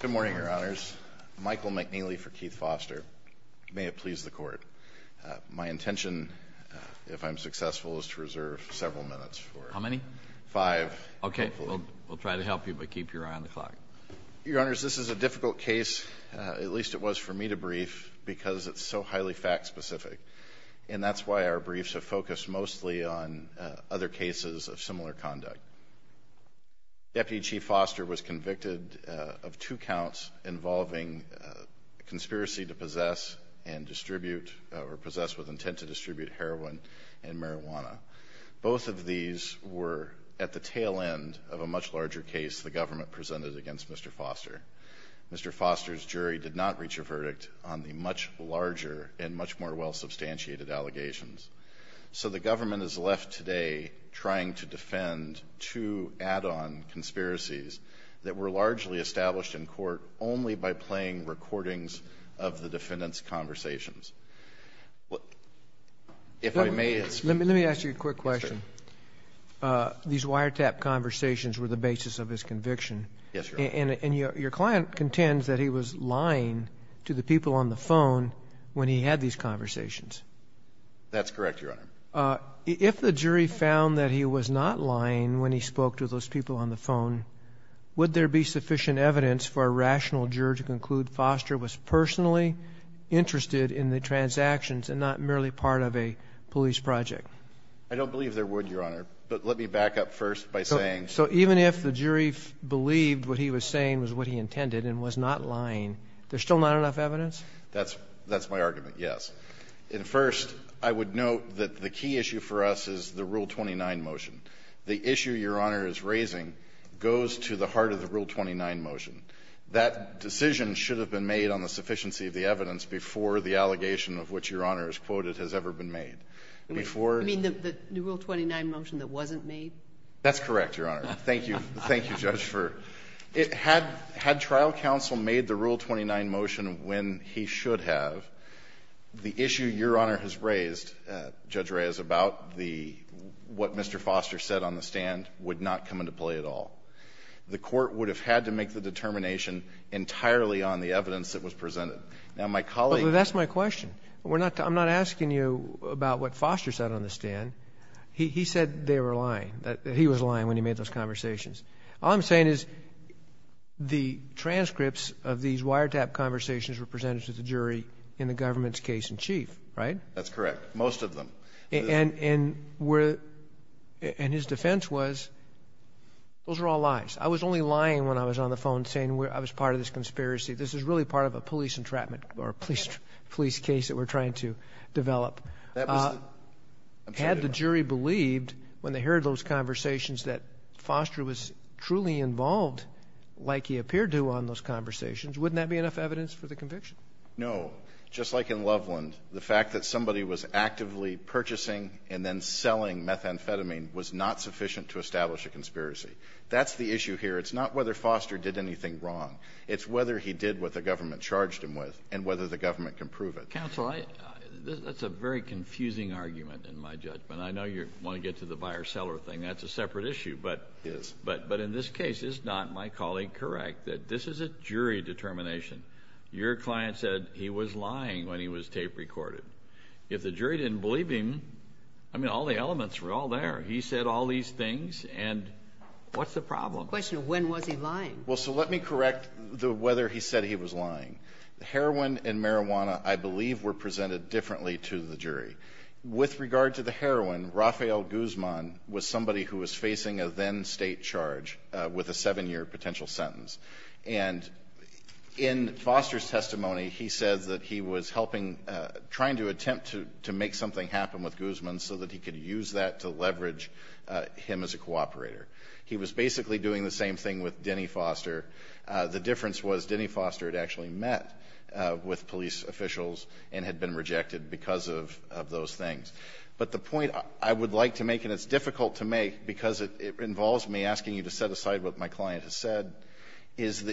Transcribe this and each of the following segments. Good morning, Your Honors. Michael McNeely for Keith Foster. May it please the Court. My intention, if I'm successful, is to reserve several minutes. How many? Five. Okay, we'll try to help you but keep your eye on the clock. Your Honors, this is a difficult case, at least it was for me to brief, because it's so highly fact-specific. And that's why our jury was convicted of two counts involving conspiracy to possess and distribute or possess with intent to distribute heroin and marijuana. Both of these were at the tail end of a much larger case the government presented against Mr. Foster. Mr. Foster's jury did not reach a verdict on the much larger and much more well-substantiated allegations. So the government is left today trying to defend two add-on conspiracies that were largely established in court only by playing recordings of the defendants' conversations. If I may ask you a quick question. These wiretap conversations were the basis of his conviction. Yes, Your Honor. And your client contends that he was lying to the people on the phone when he had these conversations. That's correct, Your Honor. If the jury found that he was not lying when he spoke to those people on the phone, would there be sufficient evidence for a rational juror to conclude Foster was personally interested in the transactions and not merely part of a police project? I don't believe there would, Your Honor. But let me back up first by saying so. So even if the jury believed what he was saying was what he intended and was not lying, there's still not enough evidence? That's my argument, yes. And first, I would note that the key issue for us is the Rule 29 motion. The issue Your Honor is raising goes to the heart of the Rule 29 motion. That decision should have been made on the sufficiency of the evidence before the allegation of which Your Honor has quoted has ever been made. Before the rule 29 motion that wasn't made. That's correct, Your Honor. Thank you. Thank you, Judge, for it. Had trial counsel made the Rule 29 motion when he should have, the issue Your Honor has raised, Judge Reyes, about the what Mr. Foster said on the stand would not come into play at all. The Court would have had to make the determination entirely on the evidence that was presented. Now, my colleague ---- Well, that's my question. We're not too ---- I'm not asking you about what Foster said on the stand. He said they were lying, that he was lying when he made those conversations. All I'm saying is the transcripts of these wiretap conversations were presented to the jury in the government's case in chief, right? That's correct. Most of them. And where the ---- and his defense was, those were all lies. I was only lying when I was on the phone saying I was part of this conspiracy. This is really part of a police entrapment or a police case that we're trying to develop. That was the ---- If the jury believed when they heard those conversations that Foster was truly involved, like he appeared to on those conversations, wouldn't that be enough evidence for the conviction? No. Just like in Loveland, the fact that somebody was actively purchasing and then selling methamphetamine was not sufficient to establish a conspiracy. That's the issue here. It's not whether Foster did anything wrong. It's whether he did what the government charged him with and whether the government can prove it. Counsel, I ---- that's a very confusing argument in my judgment. I know you want to get to the buyer-seller thing. That's a separate issue. But in this case, is not my colleague correct that this is a jury determination? Your client said he was lying when he was tape recorded. If the jury didn't believe him, I mean, all the elements were all there. He said all these things, and what's the problem? The question is, when was he lying? Well, so let me correct the whether he said he was lying. Heroin and marijuana, I believe, were presented differently to the jury. With regard to the heroin, Rafael Guzman was somebody who was facing a then-State charge with a seven-year potential sentence. And in Foster's testimony, he said that he was helping ---- trying to attempt to make something happen with Guzman so that he could use that to leverage him as a cooperator. He was basically doing the same thing with Denny Foster. The difference was Denny Foster had actually met with police officials and had been involved in some of those things. But the point I would like to make, and it's difficult to make because it involves me asking you to set aside what my client has said, is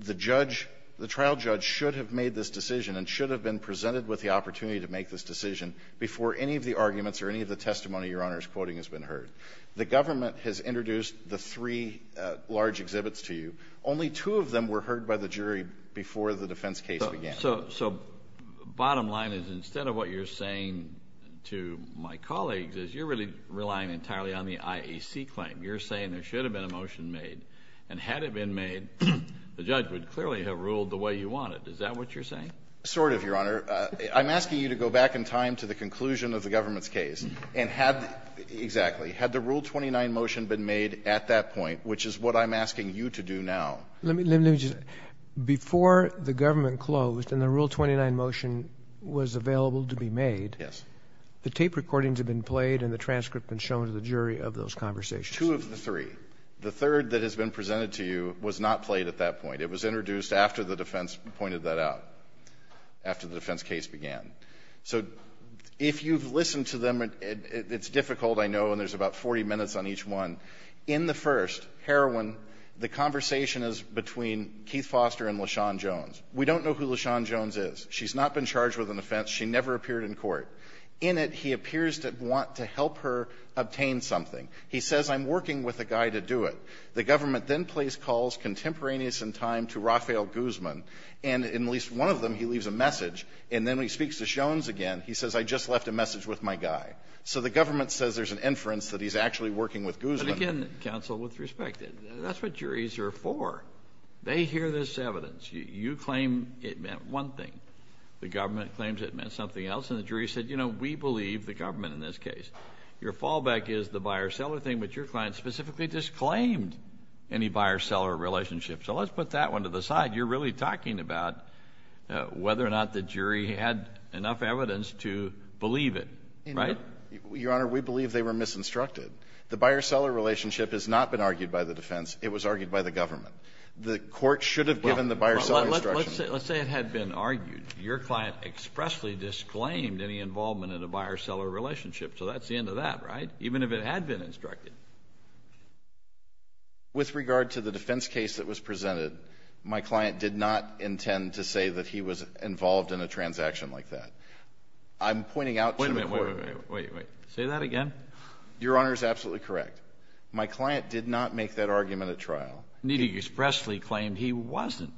the judge, the trial judge, should have made this decision and should have been presented with the opportunity to make this decision before any of the arguments or any of the testimony Your Honor is quoting has been heard. The government has introduced the three large exhibits to you. Only two of them were heard by the jury before the defense case began. So bottom line is instead of what you're saying to my colleagues is you're really relying entirely on the IAC claim. You're saying there should have been a motion made, and had it been made, the judge would clearly have ruled the way you want it. Is that what you're saying? Sort of, Your Honor. I'm asking you to go back in time to the conclusion of the government's case and had the ---- exactly. Had the Rule 29 motion been made at that point, which is what I'm asking you to do now. Let me just ---- before the government closed and the Rule 29 motion was available to be made, the tape recordings have been played and the transcript has been shown to the jury of those conversations. Two of the three. The third that has been presented to you was not played at that point. It was introduced after the defense pointed that out, after the defense case began. So if you've listened to them, it's difficult, I know, and there's about 40 minutes on each one. In the first, Heroin, the conversation is between Keith Foster and LaShawn Jones. We don't know who LaShawn Jones is. She's not been charged with an offense. She never appeared in court. In it, he appears to want to help her obtain something. He says, I'm working with a guy to do it. The government then plays calls contemporaneous in time to Rafael Guzman, and in at least one of them he leaves a message, and then when he speaks to Jones again, he says, I just left a message with my guy. So the government says there's an inference that he's actually working with Guzman. But again, counsel, with respect, that's what juries are for. They hear this evidence. You claim it meant one thing. The government claims it meant something else, and the jury said, you know, we believe the government in this case. Your fallback is the buyer-seller thing, but your client specifically disclaimed any buyer-seller relationship. So let's put that one to the side. You're really talking about whether or not the jury had enough evidence to believe it, right? Your Honor, we believe they were misinstructed. The buyer-seller relationship has not been argued by the defense. It was argued by the government. The court should have given the buyer-seller instruction. Well, let's say it had been argued. Your client expressly disclaimed any involvement in a buyer-seller relationship. So that's the end of that, right? Even if it had been instructed. With regard to the defense case that was presented, my client did not intend to say that he was involved in a transaction like that. I'm pointing out to the court. Wait, wait, wait. Say that again. Your Honor is absolutely correct. My client did not make that argument at trial. He expressly claimed he wasn't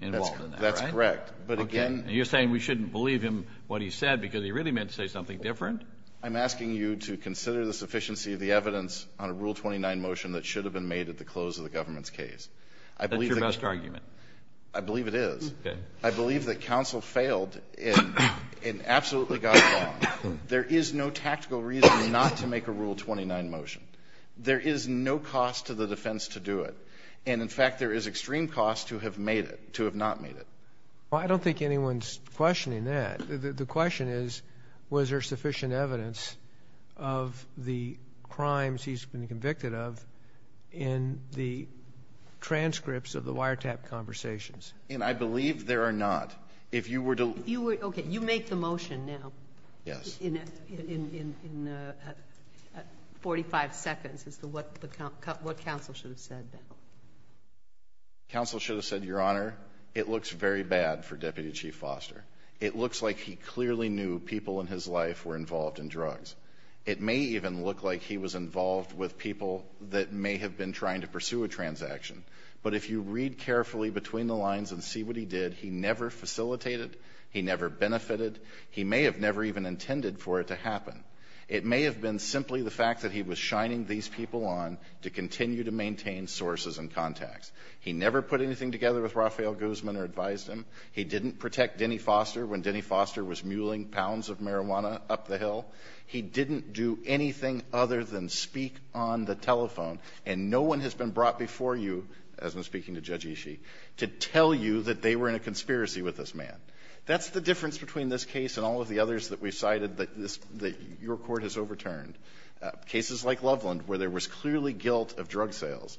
involved in that, right? That's correct. But again you're saying we shouldn't believe him what he said because he really meant to say something different. I'm asking you to consider the sufficiency of the evidence on a Rule 29 motion that should have been made at the close of the government's case. That's your best argument. I believe it is. Okay. I believe that counsel failed and absolutely got it wrong. There is no tactical reason not to make a Rule 29 motion. There is no cost to the defense to do it. And in fact, there is extreme cost to have made it, to have not made it. Well, I don't think anyone's questioning that. The question is, was there sufficient evidence of the crimes he's been convicted of in the transcripts of the wiretap conversations? And I believe there are not. If you were to- If you were, okay, you make the motion now. Yes. In 45 seconds as to what counsel should have said. Counsel should have said, Your Honor, it looks very bad for Deputy Chief Foster. It looks like he clearly knew people in his life were involved in drugs. It may even look like he was involved with people that may have been trying to pursue a transaction. But if you read carefully between the lines and see what he did, he never facilitated, he never benefited. He may have never even intended for it to happen. It may have been simply the fact that he was shining these people on to continue to maintain sources and contacts. He never put anything together with Rafael Guzman or advised him. He didn't protect Denny Foster when Denny Foster was muelling pounds of marijuana up the hill. He didn't do anything other than speak on the telephone, and no one has been brought before you, as I'm speaking to Judge Ishii, to tell you that they were in a conspiracy with this man. That's the difference between this case and all of the others that we've cited that this that your Court has overturned, cases like Loveland, where there was clearly guilt of drug sales.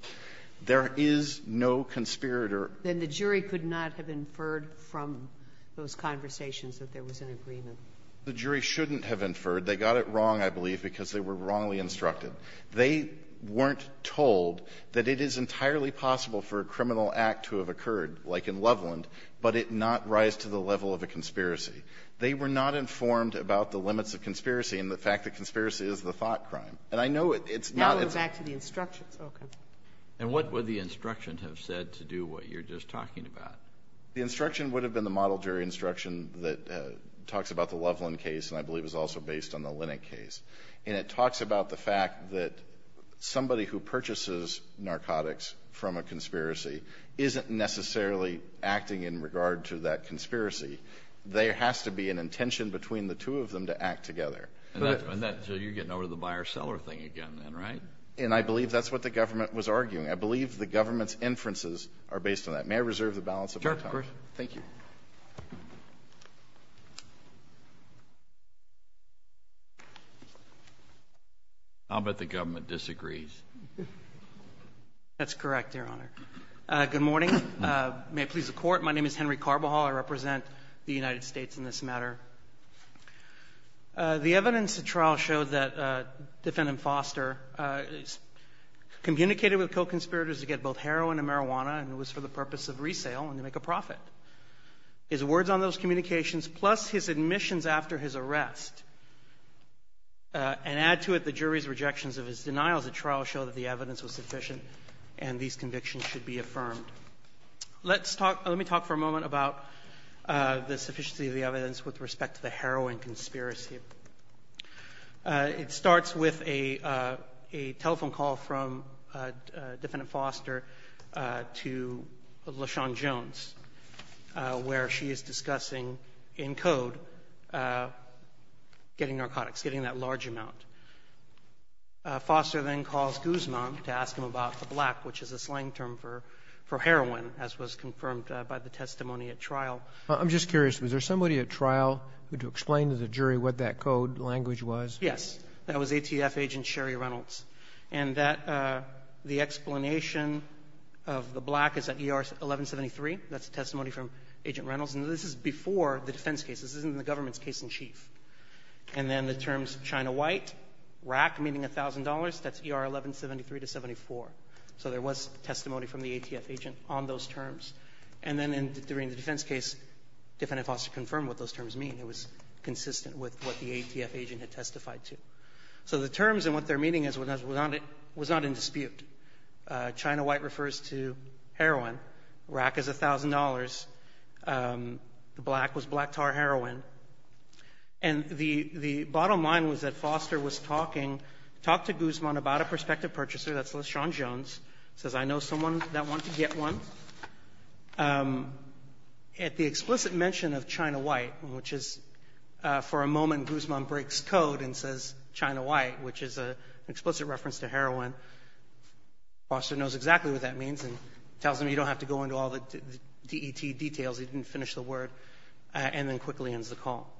There is no conspirator. Then the jury could not have inferred from those conversations that there was an agreement. The jury shouldn't have inferred. They got it wrong, I believe, because they were wrongly instructed. They weren't told that it is entirely possible for a criminal act to have occurred, like in Loveland, but it not rise to the level of a conspiracy. They were not informed about the limits of conspiracy and the fact that conspiracy is the thought crime. And I know it's not as a ---- Sotomayor, back to the instructions. Okay. And what would the instruction have said to do what you're just talking about? The instruction would have been the model jury instruction that talks about the Loveland case and I believe is also based on the Lennock case. And it talks about the fact that somebody who purchases narcotics from a conspiracy isn't necessarily acting in regard to that conspiracy. There has to be an intention between the two of them to act together. And that's why you're getting over the buyer-seller thing again, then, right? And I believe that's what the government was arguing. I believe the government's inferences are based on that. May I reserve the balance of my time? Sure, of course. Thank you. I'll bet the government disagrees. That's correct, Your Honor. Good morning. May it please the Court. My name is Henry Carbajal. I represent the United States in this matter. The evidence at trial showed that Defendant Foster communicated with co-conspirators to get both heroin and marijuana, and it was for the purpose of resale and to make a profit. His words on those communications, plus his admissions after his arrest, and add to it the jury's rejections of his denials at trial show that the evidence was sufficient and these convictions should be affirmed. Let's talk — let me talk for a moment about the sufficiency of the evidence with respect to the heroin conspiracy. It starts with a telephone call from Defendant Foster to LaShawn Jones, where she is discussing, in code, getting narcotics, getting that large amount. Foster then calls Guzman to ask him about the black, which is a slang term for heroin, as was confirmed by the testimony at trial. I'm just curious. Was there somebody at trial who explained to the jury what that code language was? Yes. That was ATF Agent Sherry Reynolds. And that — the explanation of the black is at ER 1173. That's a testimony from Agent Reynolds. And this is before the defense case. This isn't the government's case in chief. And then the terms China White, RAC, meaning $1,000. That's ER 1173 to 74. So there was testimony from the ATF agent on those terms. And then during the defense case, Defendant Foster confirmed what those terms mean. It was consistent with what the ATF agent had testified to. So the terms and what they're meaning was not in dispute. China White refers to heroin. RAC is $1,000. The black was black tar heroin. And the — the bottom line was that Foster was talking — talked to Guzman about a prospective purchaser. That's Leshawn Jones. Says, I know someone that wants to get one. At the explicit mention of China White, which is — for a moment, Guzman breaks code and says China White, which is an explicit reference to heroin. Foster knows exactly what that means and tells him you don't have to go into all the DET details. He didn't finish the word. And then quickly ends the call.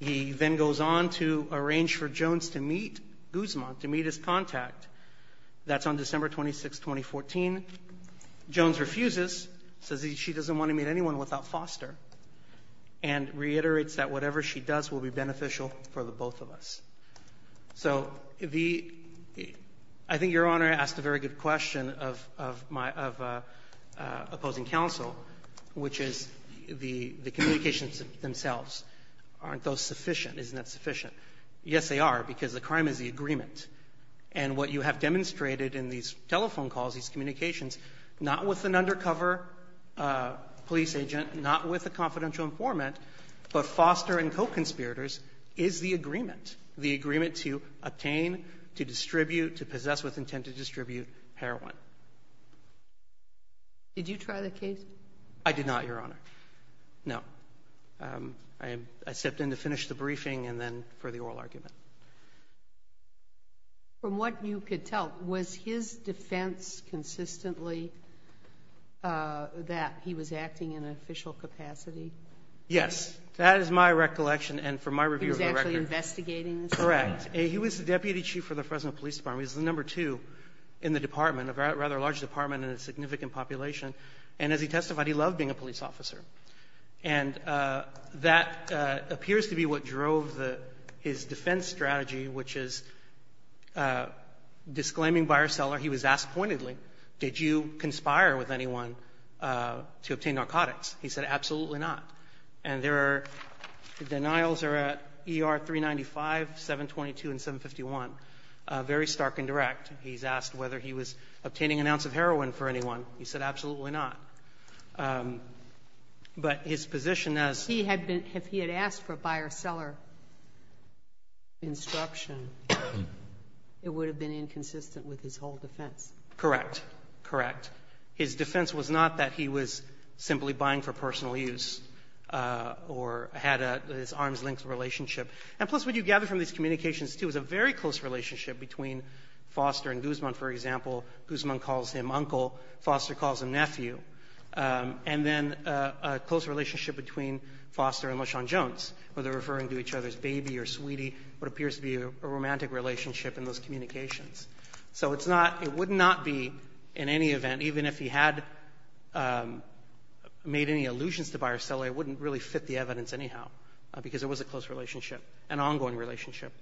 He then goes on to arrange for Jones to meet Guzman, to meet his contact. That's on December 26, 2014. Jones refuses, says she doesn't want to meet anyone without Foster, and reiterates that whatever she does will be beneficial for the both of us. So the — I think Your Honor asked a very good question of — of my — of opposing counsel, which is the — the communications themselves. Aren't those sufficient? Isn't that sufficient? Yes, they are, because the crime is the agreement. And what you have demonstrated in these telephone calls, these communications, not with an undercover police agent, not with a confidential informant, but Foster and co-conspirators, is the agreement, the agreement to obtain, to distribute, to possess with intent to distribute heroin. Did you try the case? I did not, Your Honor. No. I stepped in to finish the briefing and then for the oral argument. From what you could tell, was his defense consistently that he was acting in an official capacity? Yes. That is my recollection. And from my review of the record — He was actually investigating this? Correct. He was the deputy chief for the Fresno Police Department. He was the number two in the department, a rather large department in a significant population. And as he testified, he loved being a police officer. And that appears to be what drove the — his defense strategy, which is disclaiming buyer-seller. He was asked pointedly, did you conspire with anyone to obtain narcotics? He said, absolutely not. And there are — the denials are at ER 395, 722, and 751. Very stark and direct. He's asked whether he was obtaining an ounce of heroin for anyone. He said, absolutely not. But his position as — He had been — if he had asked for buyer-seller instruction, it would have been inconsistent with his whole defense. Correct. Correct. His defense was not that he was simply buying for personal use or had this arm's length relationship. And plus, what you gather from these communications, too, is a very close relationship between Foster and Guzman, for example. Guzman calls him uncle. Foster calls him nephew. And then a close relationship between Foster and LaShawn Jones, where they're referring to each other as baby or sweetie, what appears to be a romantic relationship in those communications. So it's not — it would not be, in any event, even if he had made any allusions to buyer-seller, it wouldn't really fit the evidence anyhow, because it was a close relationship, an ongoing relationship.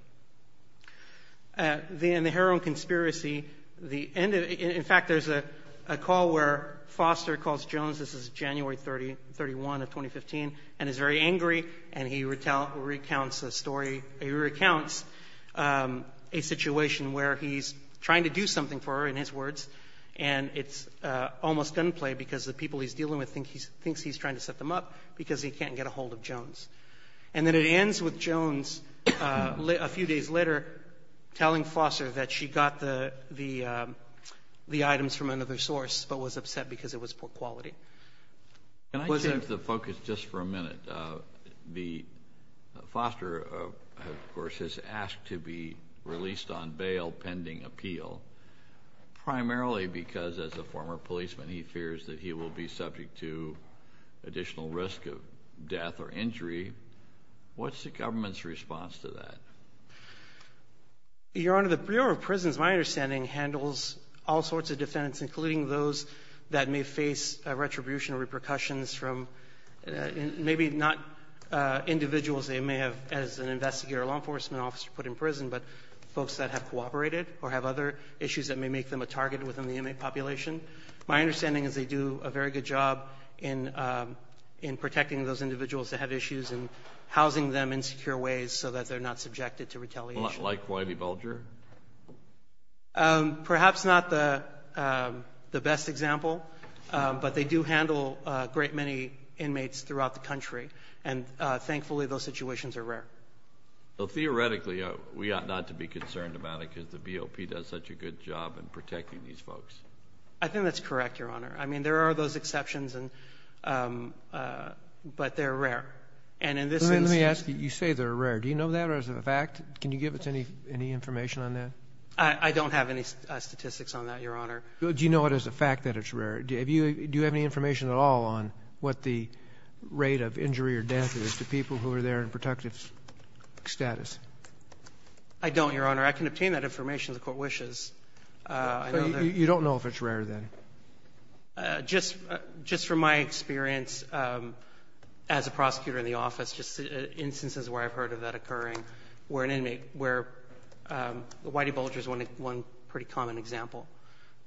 Then the heroin conspiracy, the end of it — in fact, there's a call where Foster calls Jones. This is January 31 of 2015, and is very angry, and he recounts a story — he recounts a situation where he's trying to do something for her, in his words, and it's almost gunplay because the people he's dealing with thinks he's trying to set them up because he can't get ahold of Jones. And then it ends with Jones, a few days later, telling Foster that she got the items from another source, but was upset because it was poor quality. Can I change the focus just for a minute? The — Foster, of course, has asked to be released on bail pending appeal, primarily because, as a former policeman, he fears that he will be subject to additional risk of death or injury. What's the government's response to that? Your Honor, the Bureau of Prisons, my understanding, handles all sorts of defendants, including those that may face retribution or repercussions from — maybe not individuals they may have as an investigator or law enforcement officer put in prison, but folks that have cooperated or have other issues that may make them a target within the inmate population. My understanding is they do a very good job in protecting those individuals that have issues and housing them in secure ways so that they're not subjected to retaliation. Like Whitey Bulger? Perhaps not the best example, but they do handle a great many inmates throughout the country, and, thankfully, those situations are rare. Well, theoretically, we ought not to be concerned about it because the BOP does such a good job in protecting these folks. I think that's correct, Your Honor. I mean, there are those exceptions, but they're rare. And in this instance — Let me ask you. You say they're rare. Do you know that, or is it a fact? Can you give us any information on that? I don't have any statistics on that, Your Honor. Do you know it as a fact that it's rare? Do you have any information at all on what the rate of injury or death is to people who are there in protective status? I don't, Your Honor. I can obtain that information if the Court wishes. So you don't know if it's rare, then? Just from my experience as a prosecutor in the office, just instances where I've heard of that occurring where an inmate — where Whitey Bulger is one pretty common example.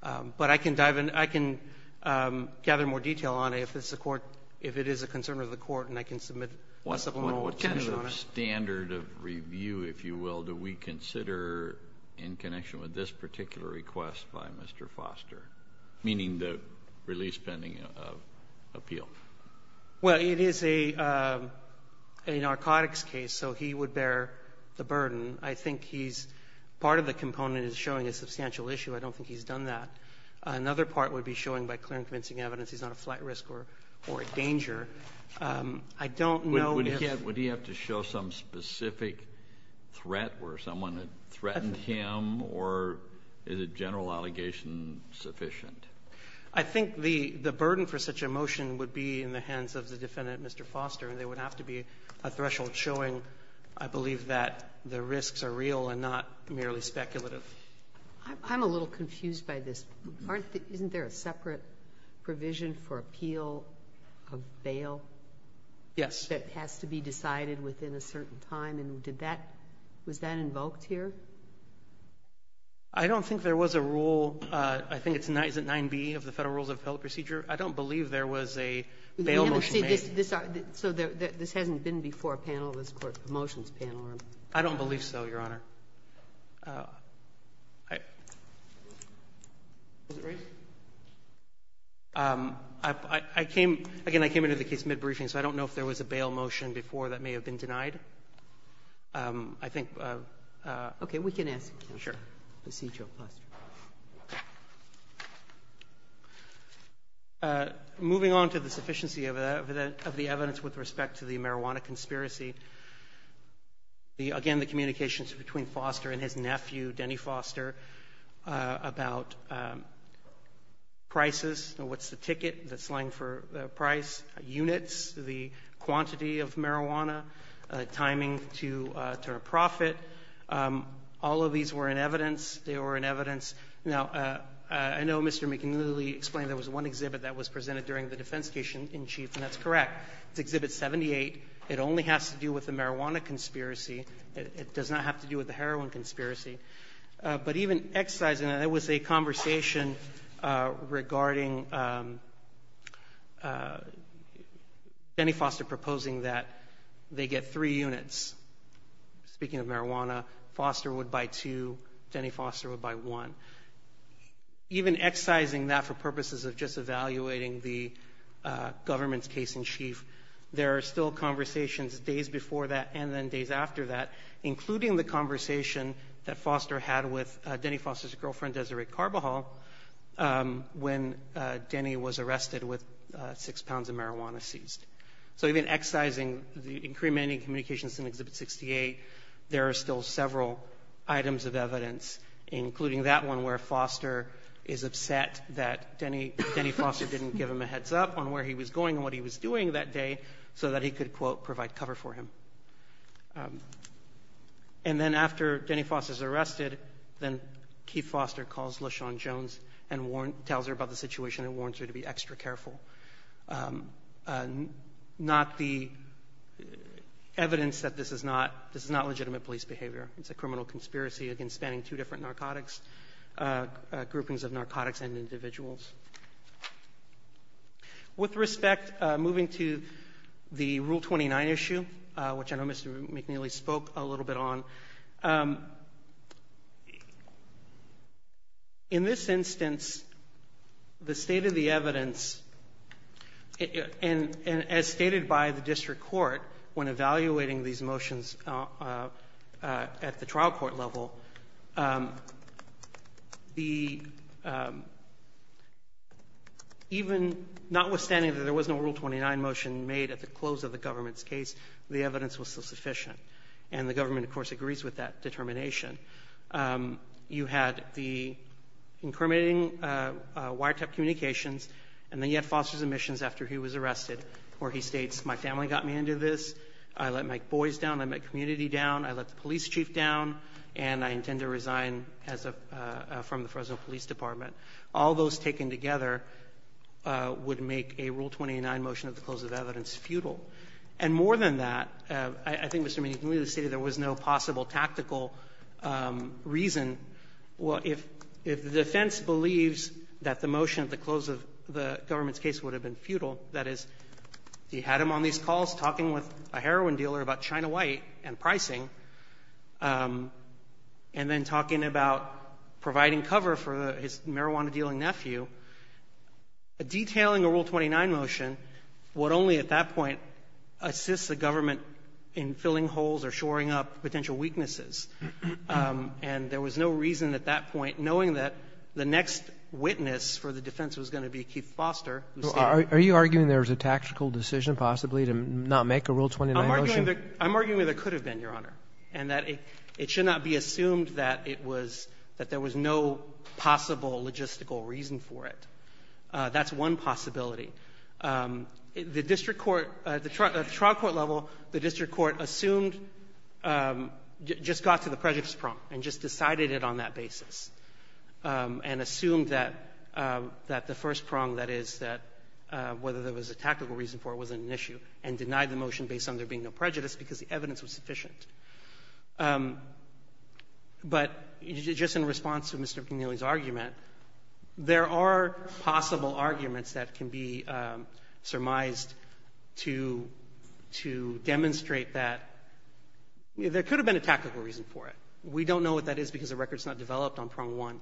But I can dive in. I can gather more detail on it if it's a court — if it is a concern of the Court, and I can submit a supplemental to you, Your Honor. What kind of standard of review, if you will, do we consider in connection with this particular request by Mr. Foster, meaning the release pending appeal? Well, it is a narcotics case, so he would bear the burden. I think he's — part of the component is showing a substantial issue. I don't think he's done that. Another part would be showing by clear and convincing evidence he's not a flight I don't know if — Again, would he have to show some specific threat where someone had threatened him, or is a general allegation sufficient? I think the burden for such a motion would be in the hands of the defendant, Mr. Foster, and there would have to be a threshold showing, I believe, that the risks are real and not merely speculative. I'm a little confused by this. Isn't there a separate provision for appeal of bail? Yes. That has to be decided within a certain time, and did that — was that invoked here? I don't think there was a rule. I think it's — is it 9B of the Federal Rules of Appeal Procedure? I don't believe there was a bail motion made. So this hasn't been before a panel of this Court's promotions panel, or? I don't believe so, Your Honor. Is it raised? I came — again, I came into the case mid-briefing, so I don't know if there was a bail motion before that may have been denied. I think — Okay. We can ask the procedural question. Sure. Moving on to the sufficiency of the evidence with respect to the marijuana conspiracy, again, the communications between Foster and his nephew, Denny Foster, about prices, what's the ticket that's lying for the price, units, the quantity of marijuana, timing to a profit. All of these were in evidence. They were in evidence. Now, I know Mr. McNeely explained there was one exhibit that was presented during the defense case in chief, and that's correct. It's Exhibit 78. It only has to do with the marijuana conspiracy. It does not have to do with the heroin conspiracy. But even exercising — and it was a conversation regarding Denny Foster proposing that they get three units. Speaking of marijuana, Foster would buy two. Denny Foster would buy one. Even exercising that for purposes of just evaluating the government's case in chief, there are still conversations days before that and then days after that, a conversation that Foster had with Denny Foster's girlfriend, Desiree Carbajal, when Denny was arrested with six pounds of marijuana seized. So even exercising the incrementing communications in Exhibit 68, there are still several items of evidence, including that one where Foster is upset that Denny Foster didn't give him a heads-up on where he was going and what he was doing that day so that he could, quote, provide cover for him. And then after Denny Foster's arrested, then Keith Foster calls LaShawn Jones and warns — tells her about the situation and warns her to be extra careful. Not the evidence that this is not — this is not legitimate police behavior. It's a criminal conspiracy against spanning two different narcotics — groupings of narcotics and individuals. With respect, moving to the Rule 29 issue, which I know Mr. McNeely spoke a little bit on, in this instance, the state of the evidence, and as stated by the district court when evaluating these motions at the trial court level, the state of the evidence was that even — notwithstanding that there was no Rule 29 motion made at the close of the government's case, the evidence was sufficient. And the government, of course, agrees with that determination. You had the incriminating wiretap communications, and then you had Foster's admissions after he was arrested, where he states, my family got me into this, I let my boys down, I let my community down, I let the police chief down, and I intend to resign as a — from the Fresno Police Department. All those taken together would make a Rule 29 motion at the close of the evidence futile. And more than that, I think Mr. McNeely stated there was no possible tactical reason. Well, if — if the defense believes that the motion at the close of the government's case would have been futile, that is, he had him on these calls talking with a heroin dealer about China White and pricing, and then talking about providing cover for his marijuana-dealing nephew, detailing a Rule 29 motion would only at that point assist the government in filling holes or shoring up potential weaknesses. And there was no reason at that point, knowing that the next witness for the defense was going to be Keith Foster, who said — Are you arguing there was a tactical decision, possibly, to not make a Rule 29 motion? I'm arguing that there could have been, Your Honor, and that it should not be assumed that it was — that there was no possible logistical reason for it. That's one possibility. The district court — at the trial court level, the district court assumed — just got to the prejudice prong and just decided it on that basis, and assumed that the first prong, that is, that whether there was a tactical reason for it wasn't an issue, and denied the motion based on there being no prejudice because the evidence was sufficient. But just in response to Mr. McNeely's argument, there are possible arguments that can be surmised to — to demonstrate that there could have been a tactical reason for it. We don't know what that is because the record is not developed on prong one.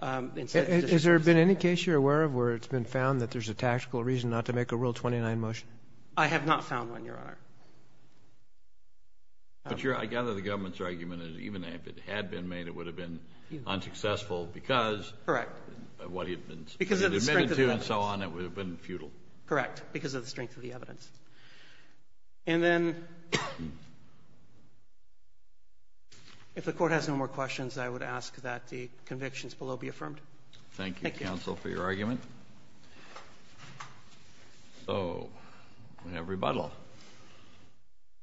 And so it's just — Has there been any case you're aware of where it's been found that there's a tactical reason not to make a Rule 29 motion? I have not found one, Your Honor. But your — I gather the government's argument is even if it had been made, it would have been unsuccessful because — Correct. — what it had been — Because of the strength of the evidence. — admitted to and so on, it would have been futile. Correct. Because of the strength of the evidence. And then, if the Court has no more questions, I would ask that the convictions below be affirmed. Thank you, counsel, for your argument. So, we have rebuttal.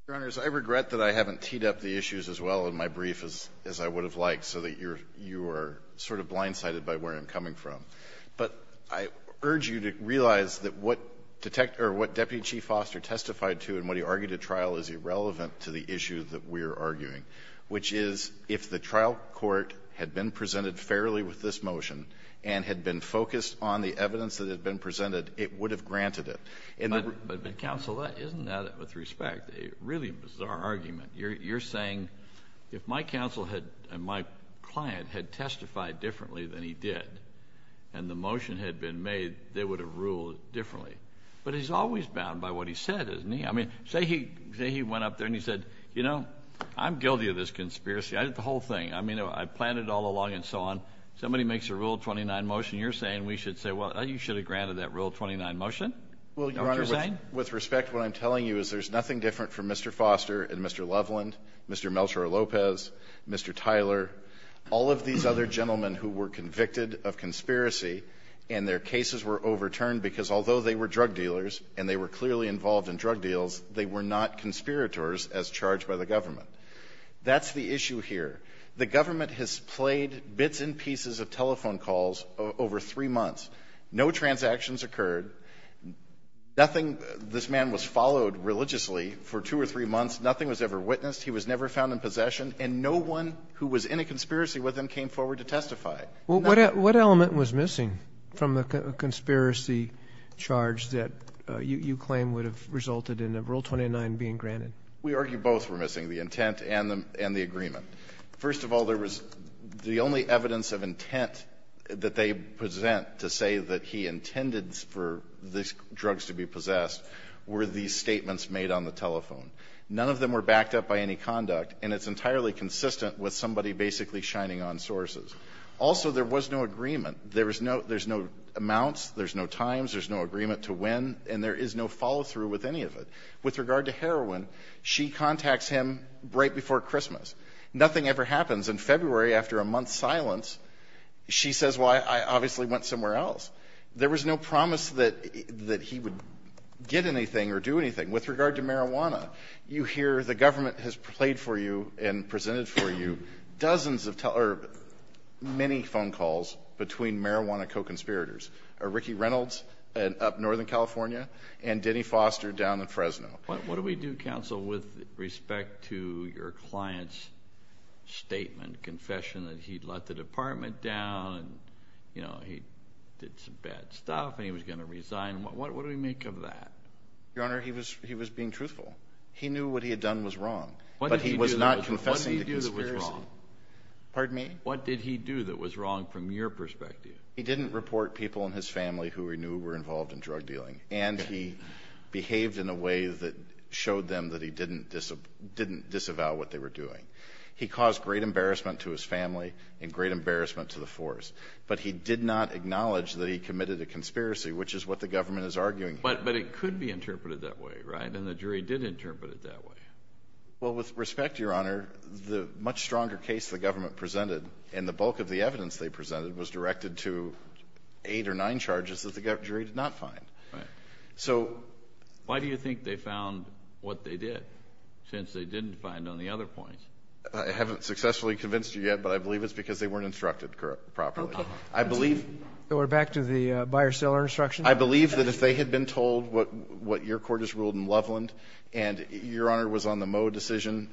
Your Honors, I regret that I haven't teed up the issues as well in my brief as I would have liked so that you're — you are sort of blindsided by where I'm coming from. But I urge you to realize that what Detective — or what Deputy Chief Foster testified to and what he argued at trial is irrelevant to the issue that we're arguing, which is if the trial court had been presented fairly with this motion and had been focused on the evidence that had been presented, it would have granted it. But, counsel, isn't that, with respect, a really bizarre argument? You're saying if my counsel had — my client had testified differently than he did and the motion had been made, they would have ruled differently. But he's always bound by what he said, isn't he? I mean, say he went up there and he said, you know, I'm guilty of this conspiracy. I did the whole thing. I mean, I planned it all along and so on. Somebody makes a Rule 29 motion. You're saying we should say, well, you should have granted that Rule 29 motion? Well, Your Honor, with respect, what I'm telling you is there's nothing different from Mr. Foster and Mr. Loveland, Mr. Melchor Lopez, Mr. Tyler, all of these other gentlemen who were convicted of conspiracy and their cases were overturned because although they were drug dealers and they were clearly involved in drug deals, they were not conspirators as charged by the government. That's the issue here. The government has played bits and pieces of telephone calls over three months. No transactions occurred. Nothing, this man was followed religiously for two or three months. Nothing was ever witnessed. He was never found in possession. And no one who was in a conspiracy with him came forward to testify. What element was missing from the conspiracy charge that you claim would have resulted in a Rule 29 being granted? We argue both were missing, the intent and the agreement. First of all, there was the only evidence of intent that they present to say that he intended for these drugs to be possessed were these statements made on the telephone. None of them were backed up by any conduct, and it's entirely consistent with somebody basically shining on sources. Also, there was no agreement. There's no amounts, there's no times, there's no agreement to when, and there is no follow-through with any of it. With regard to heroin, she contacts him right before Christmas. Nothing ever happens. In February, after a month's silence, she says, well, I obviously went somewhere else. There was no promise that he would get anything or do anything. With regard to marijuana, you hear the government has played for you and presented for you dozens of, or many phone calls between marijuana co-conspirators, Ricky Reynolds up in Northern California and Denny Foster down in Fresno. What do we do, counsel, with respect to your client's statement, confession, that he'd let the department down and, you know, he did some bad stuff and he was going to resign? What do we make of that? Your Honor, he was being truthful. He knew what he had done was wrong, but he was not confessing to conspiracy. What did he do that was wrong? Pardon me? What did he do that was wrong from your perspective? He didn't report people in his family who he knew were involved in drug dealing, and he behaved in a way that showed them that he didn't disavow what they were doing. He caused great embarrassment to his family and great embarrassment to the force, but he did not acknowledge that he committed a conspiracy, which is what the government is arguing here. But it could be interpreted that way, right? And the jury did interpret it that way. Well, with respect, Your Honor, the much stronger case the government presented and the bulk of the evidence they presented was directed to eight or nine charges that the jury did not find. Right. So why do you think they found what they did since they didn't find on the other points? I haven't successfully convinced you yet, but I believe it's because they weren't instructed properly. Okay. We're back to the buyer-seller instruction. I believe that if they had been told what your court has ruled in Loveland and Your Honor was on the Moe decision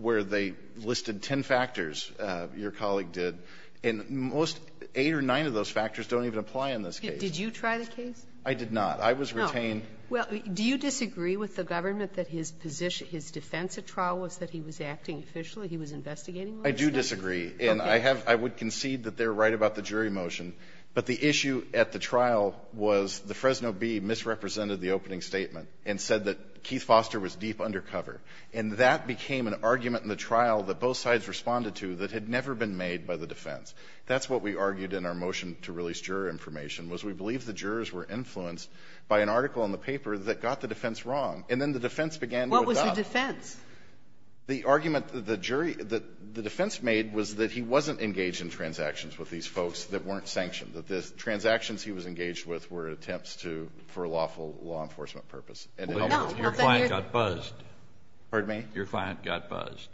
where they listed ten factors, your colleague did, and most eight or nine of those factors don't even apply in this case. Did you try the case? I did not. I was retained. No. Well, do you disagree with the government that his position, his defense at trial was that he was acting officially, he was investigating? I do disagree. Okay. And I have – I would concede that they're right about the jury motion. But the issue at the trial was the Fresno Bee misrepresented the opening statement and said that Keith Foster was deep undercover. And that became an argument in the trial that both sides responded to that had never been made by the defense. That's what we argued in our motion to release juror information, was we believe the jurors were influenced by an article in the paper that got the defense wrong. And then the defense began to adopt. What was the defense? The argument that the jury – that the defense made was that he wasn't engaged in transactions with these folks that weren't sanctioned, that the transactions he was engaged with were attempts to – for lawful – law enforcement purpose. And it helped us. Your client got buzzed. Pardon me? Your client got buzzed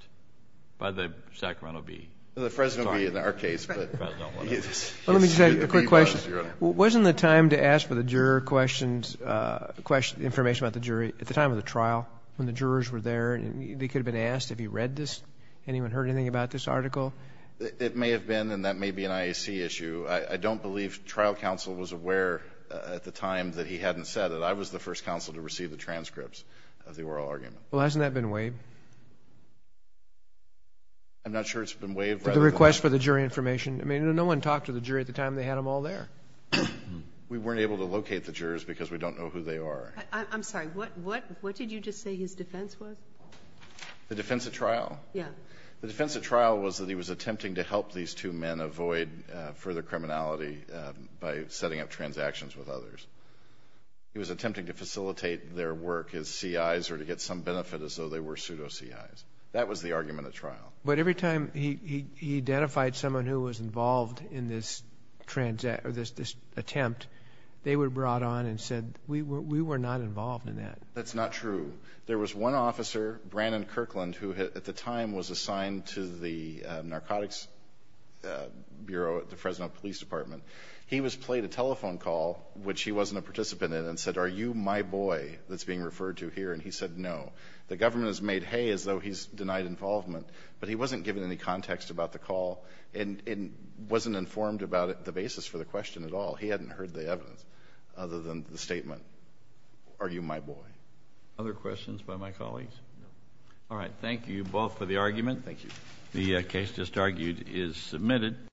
by the Sacramento Bee. The Fresno Bee in our case. The Fresno Bee. Let me just ask you a quick question. Wasn't the time to ask for the juror questions – questions – information about the jury at the time of the trial when the jurors were there? They could have been asked, have you read this? Anyone heard anything about this article? It may have been, and that may be an IAC issue. I don't believe trial counsel was aware at the time that he hadn't said it. I was the first counsel to receive the transcripts of the oral argument. Well, hasn't that been waived? I'm not sure it's been waived. At the time, they had them all there. We weren't able to locate the jurors because we don't know who they are. I'm sorry. What did you just say his defense was? The defense at trial? Yeah. The defense at trial was that he was attempting to help these two men avoid further criminality by setting up transactions with others. He was attempting to facilitate their work as CIs or to get some benefit as though they were pseudo-CIs. That was the argument at trial. But every time he identified someone who was involved in this attempt, they were brought on and said, we were not involved in that. That's not true. There was one officer, Brandon Kirkland, who, at the time, was assigned to the Narcotics Bureau at the Fresno Police Department. He played a telephone call, which he wasn't a participant in, and said, are you my boy that's being referred to here? And he said no. The government has made hay as though he's denied involvement, but he wasn't given any context about the call and wasn't informed about the basis for the question at all. He hadn't heard the evidence other than the statement, are you my boy? Other questions by my colleagues? No. All right. Thank you both for the argument. Thank you. The case just argued is submitted.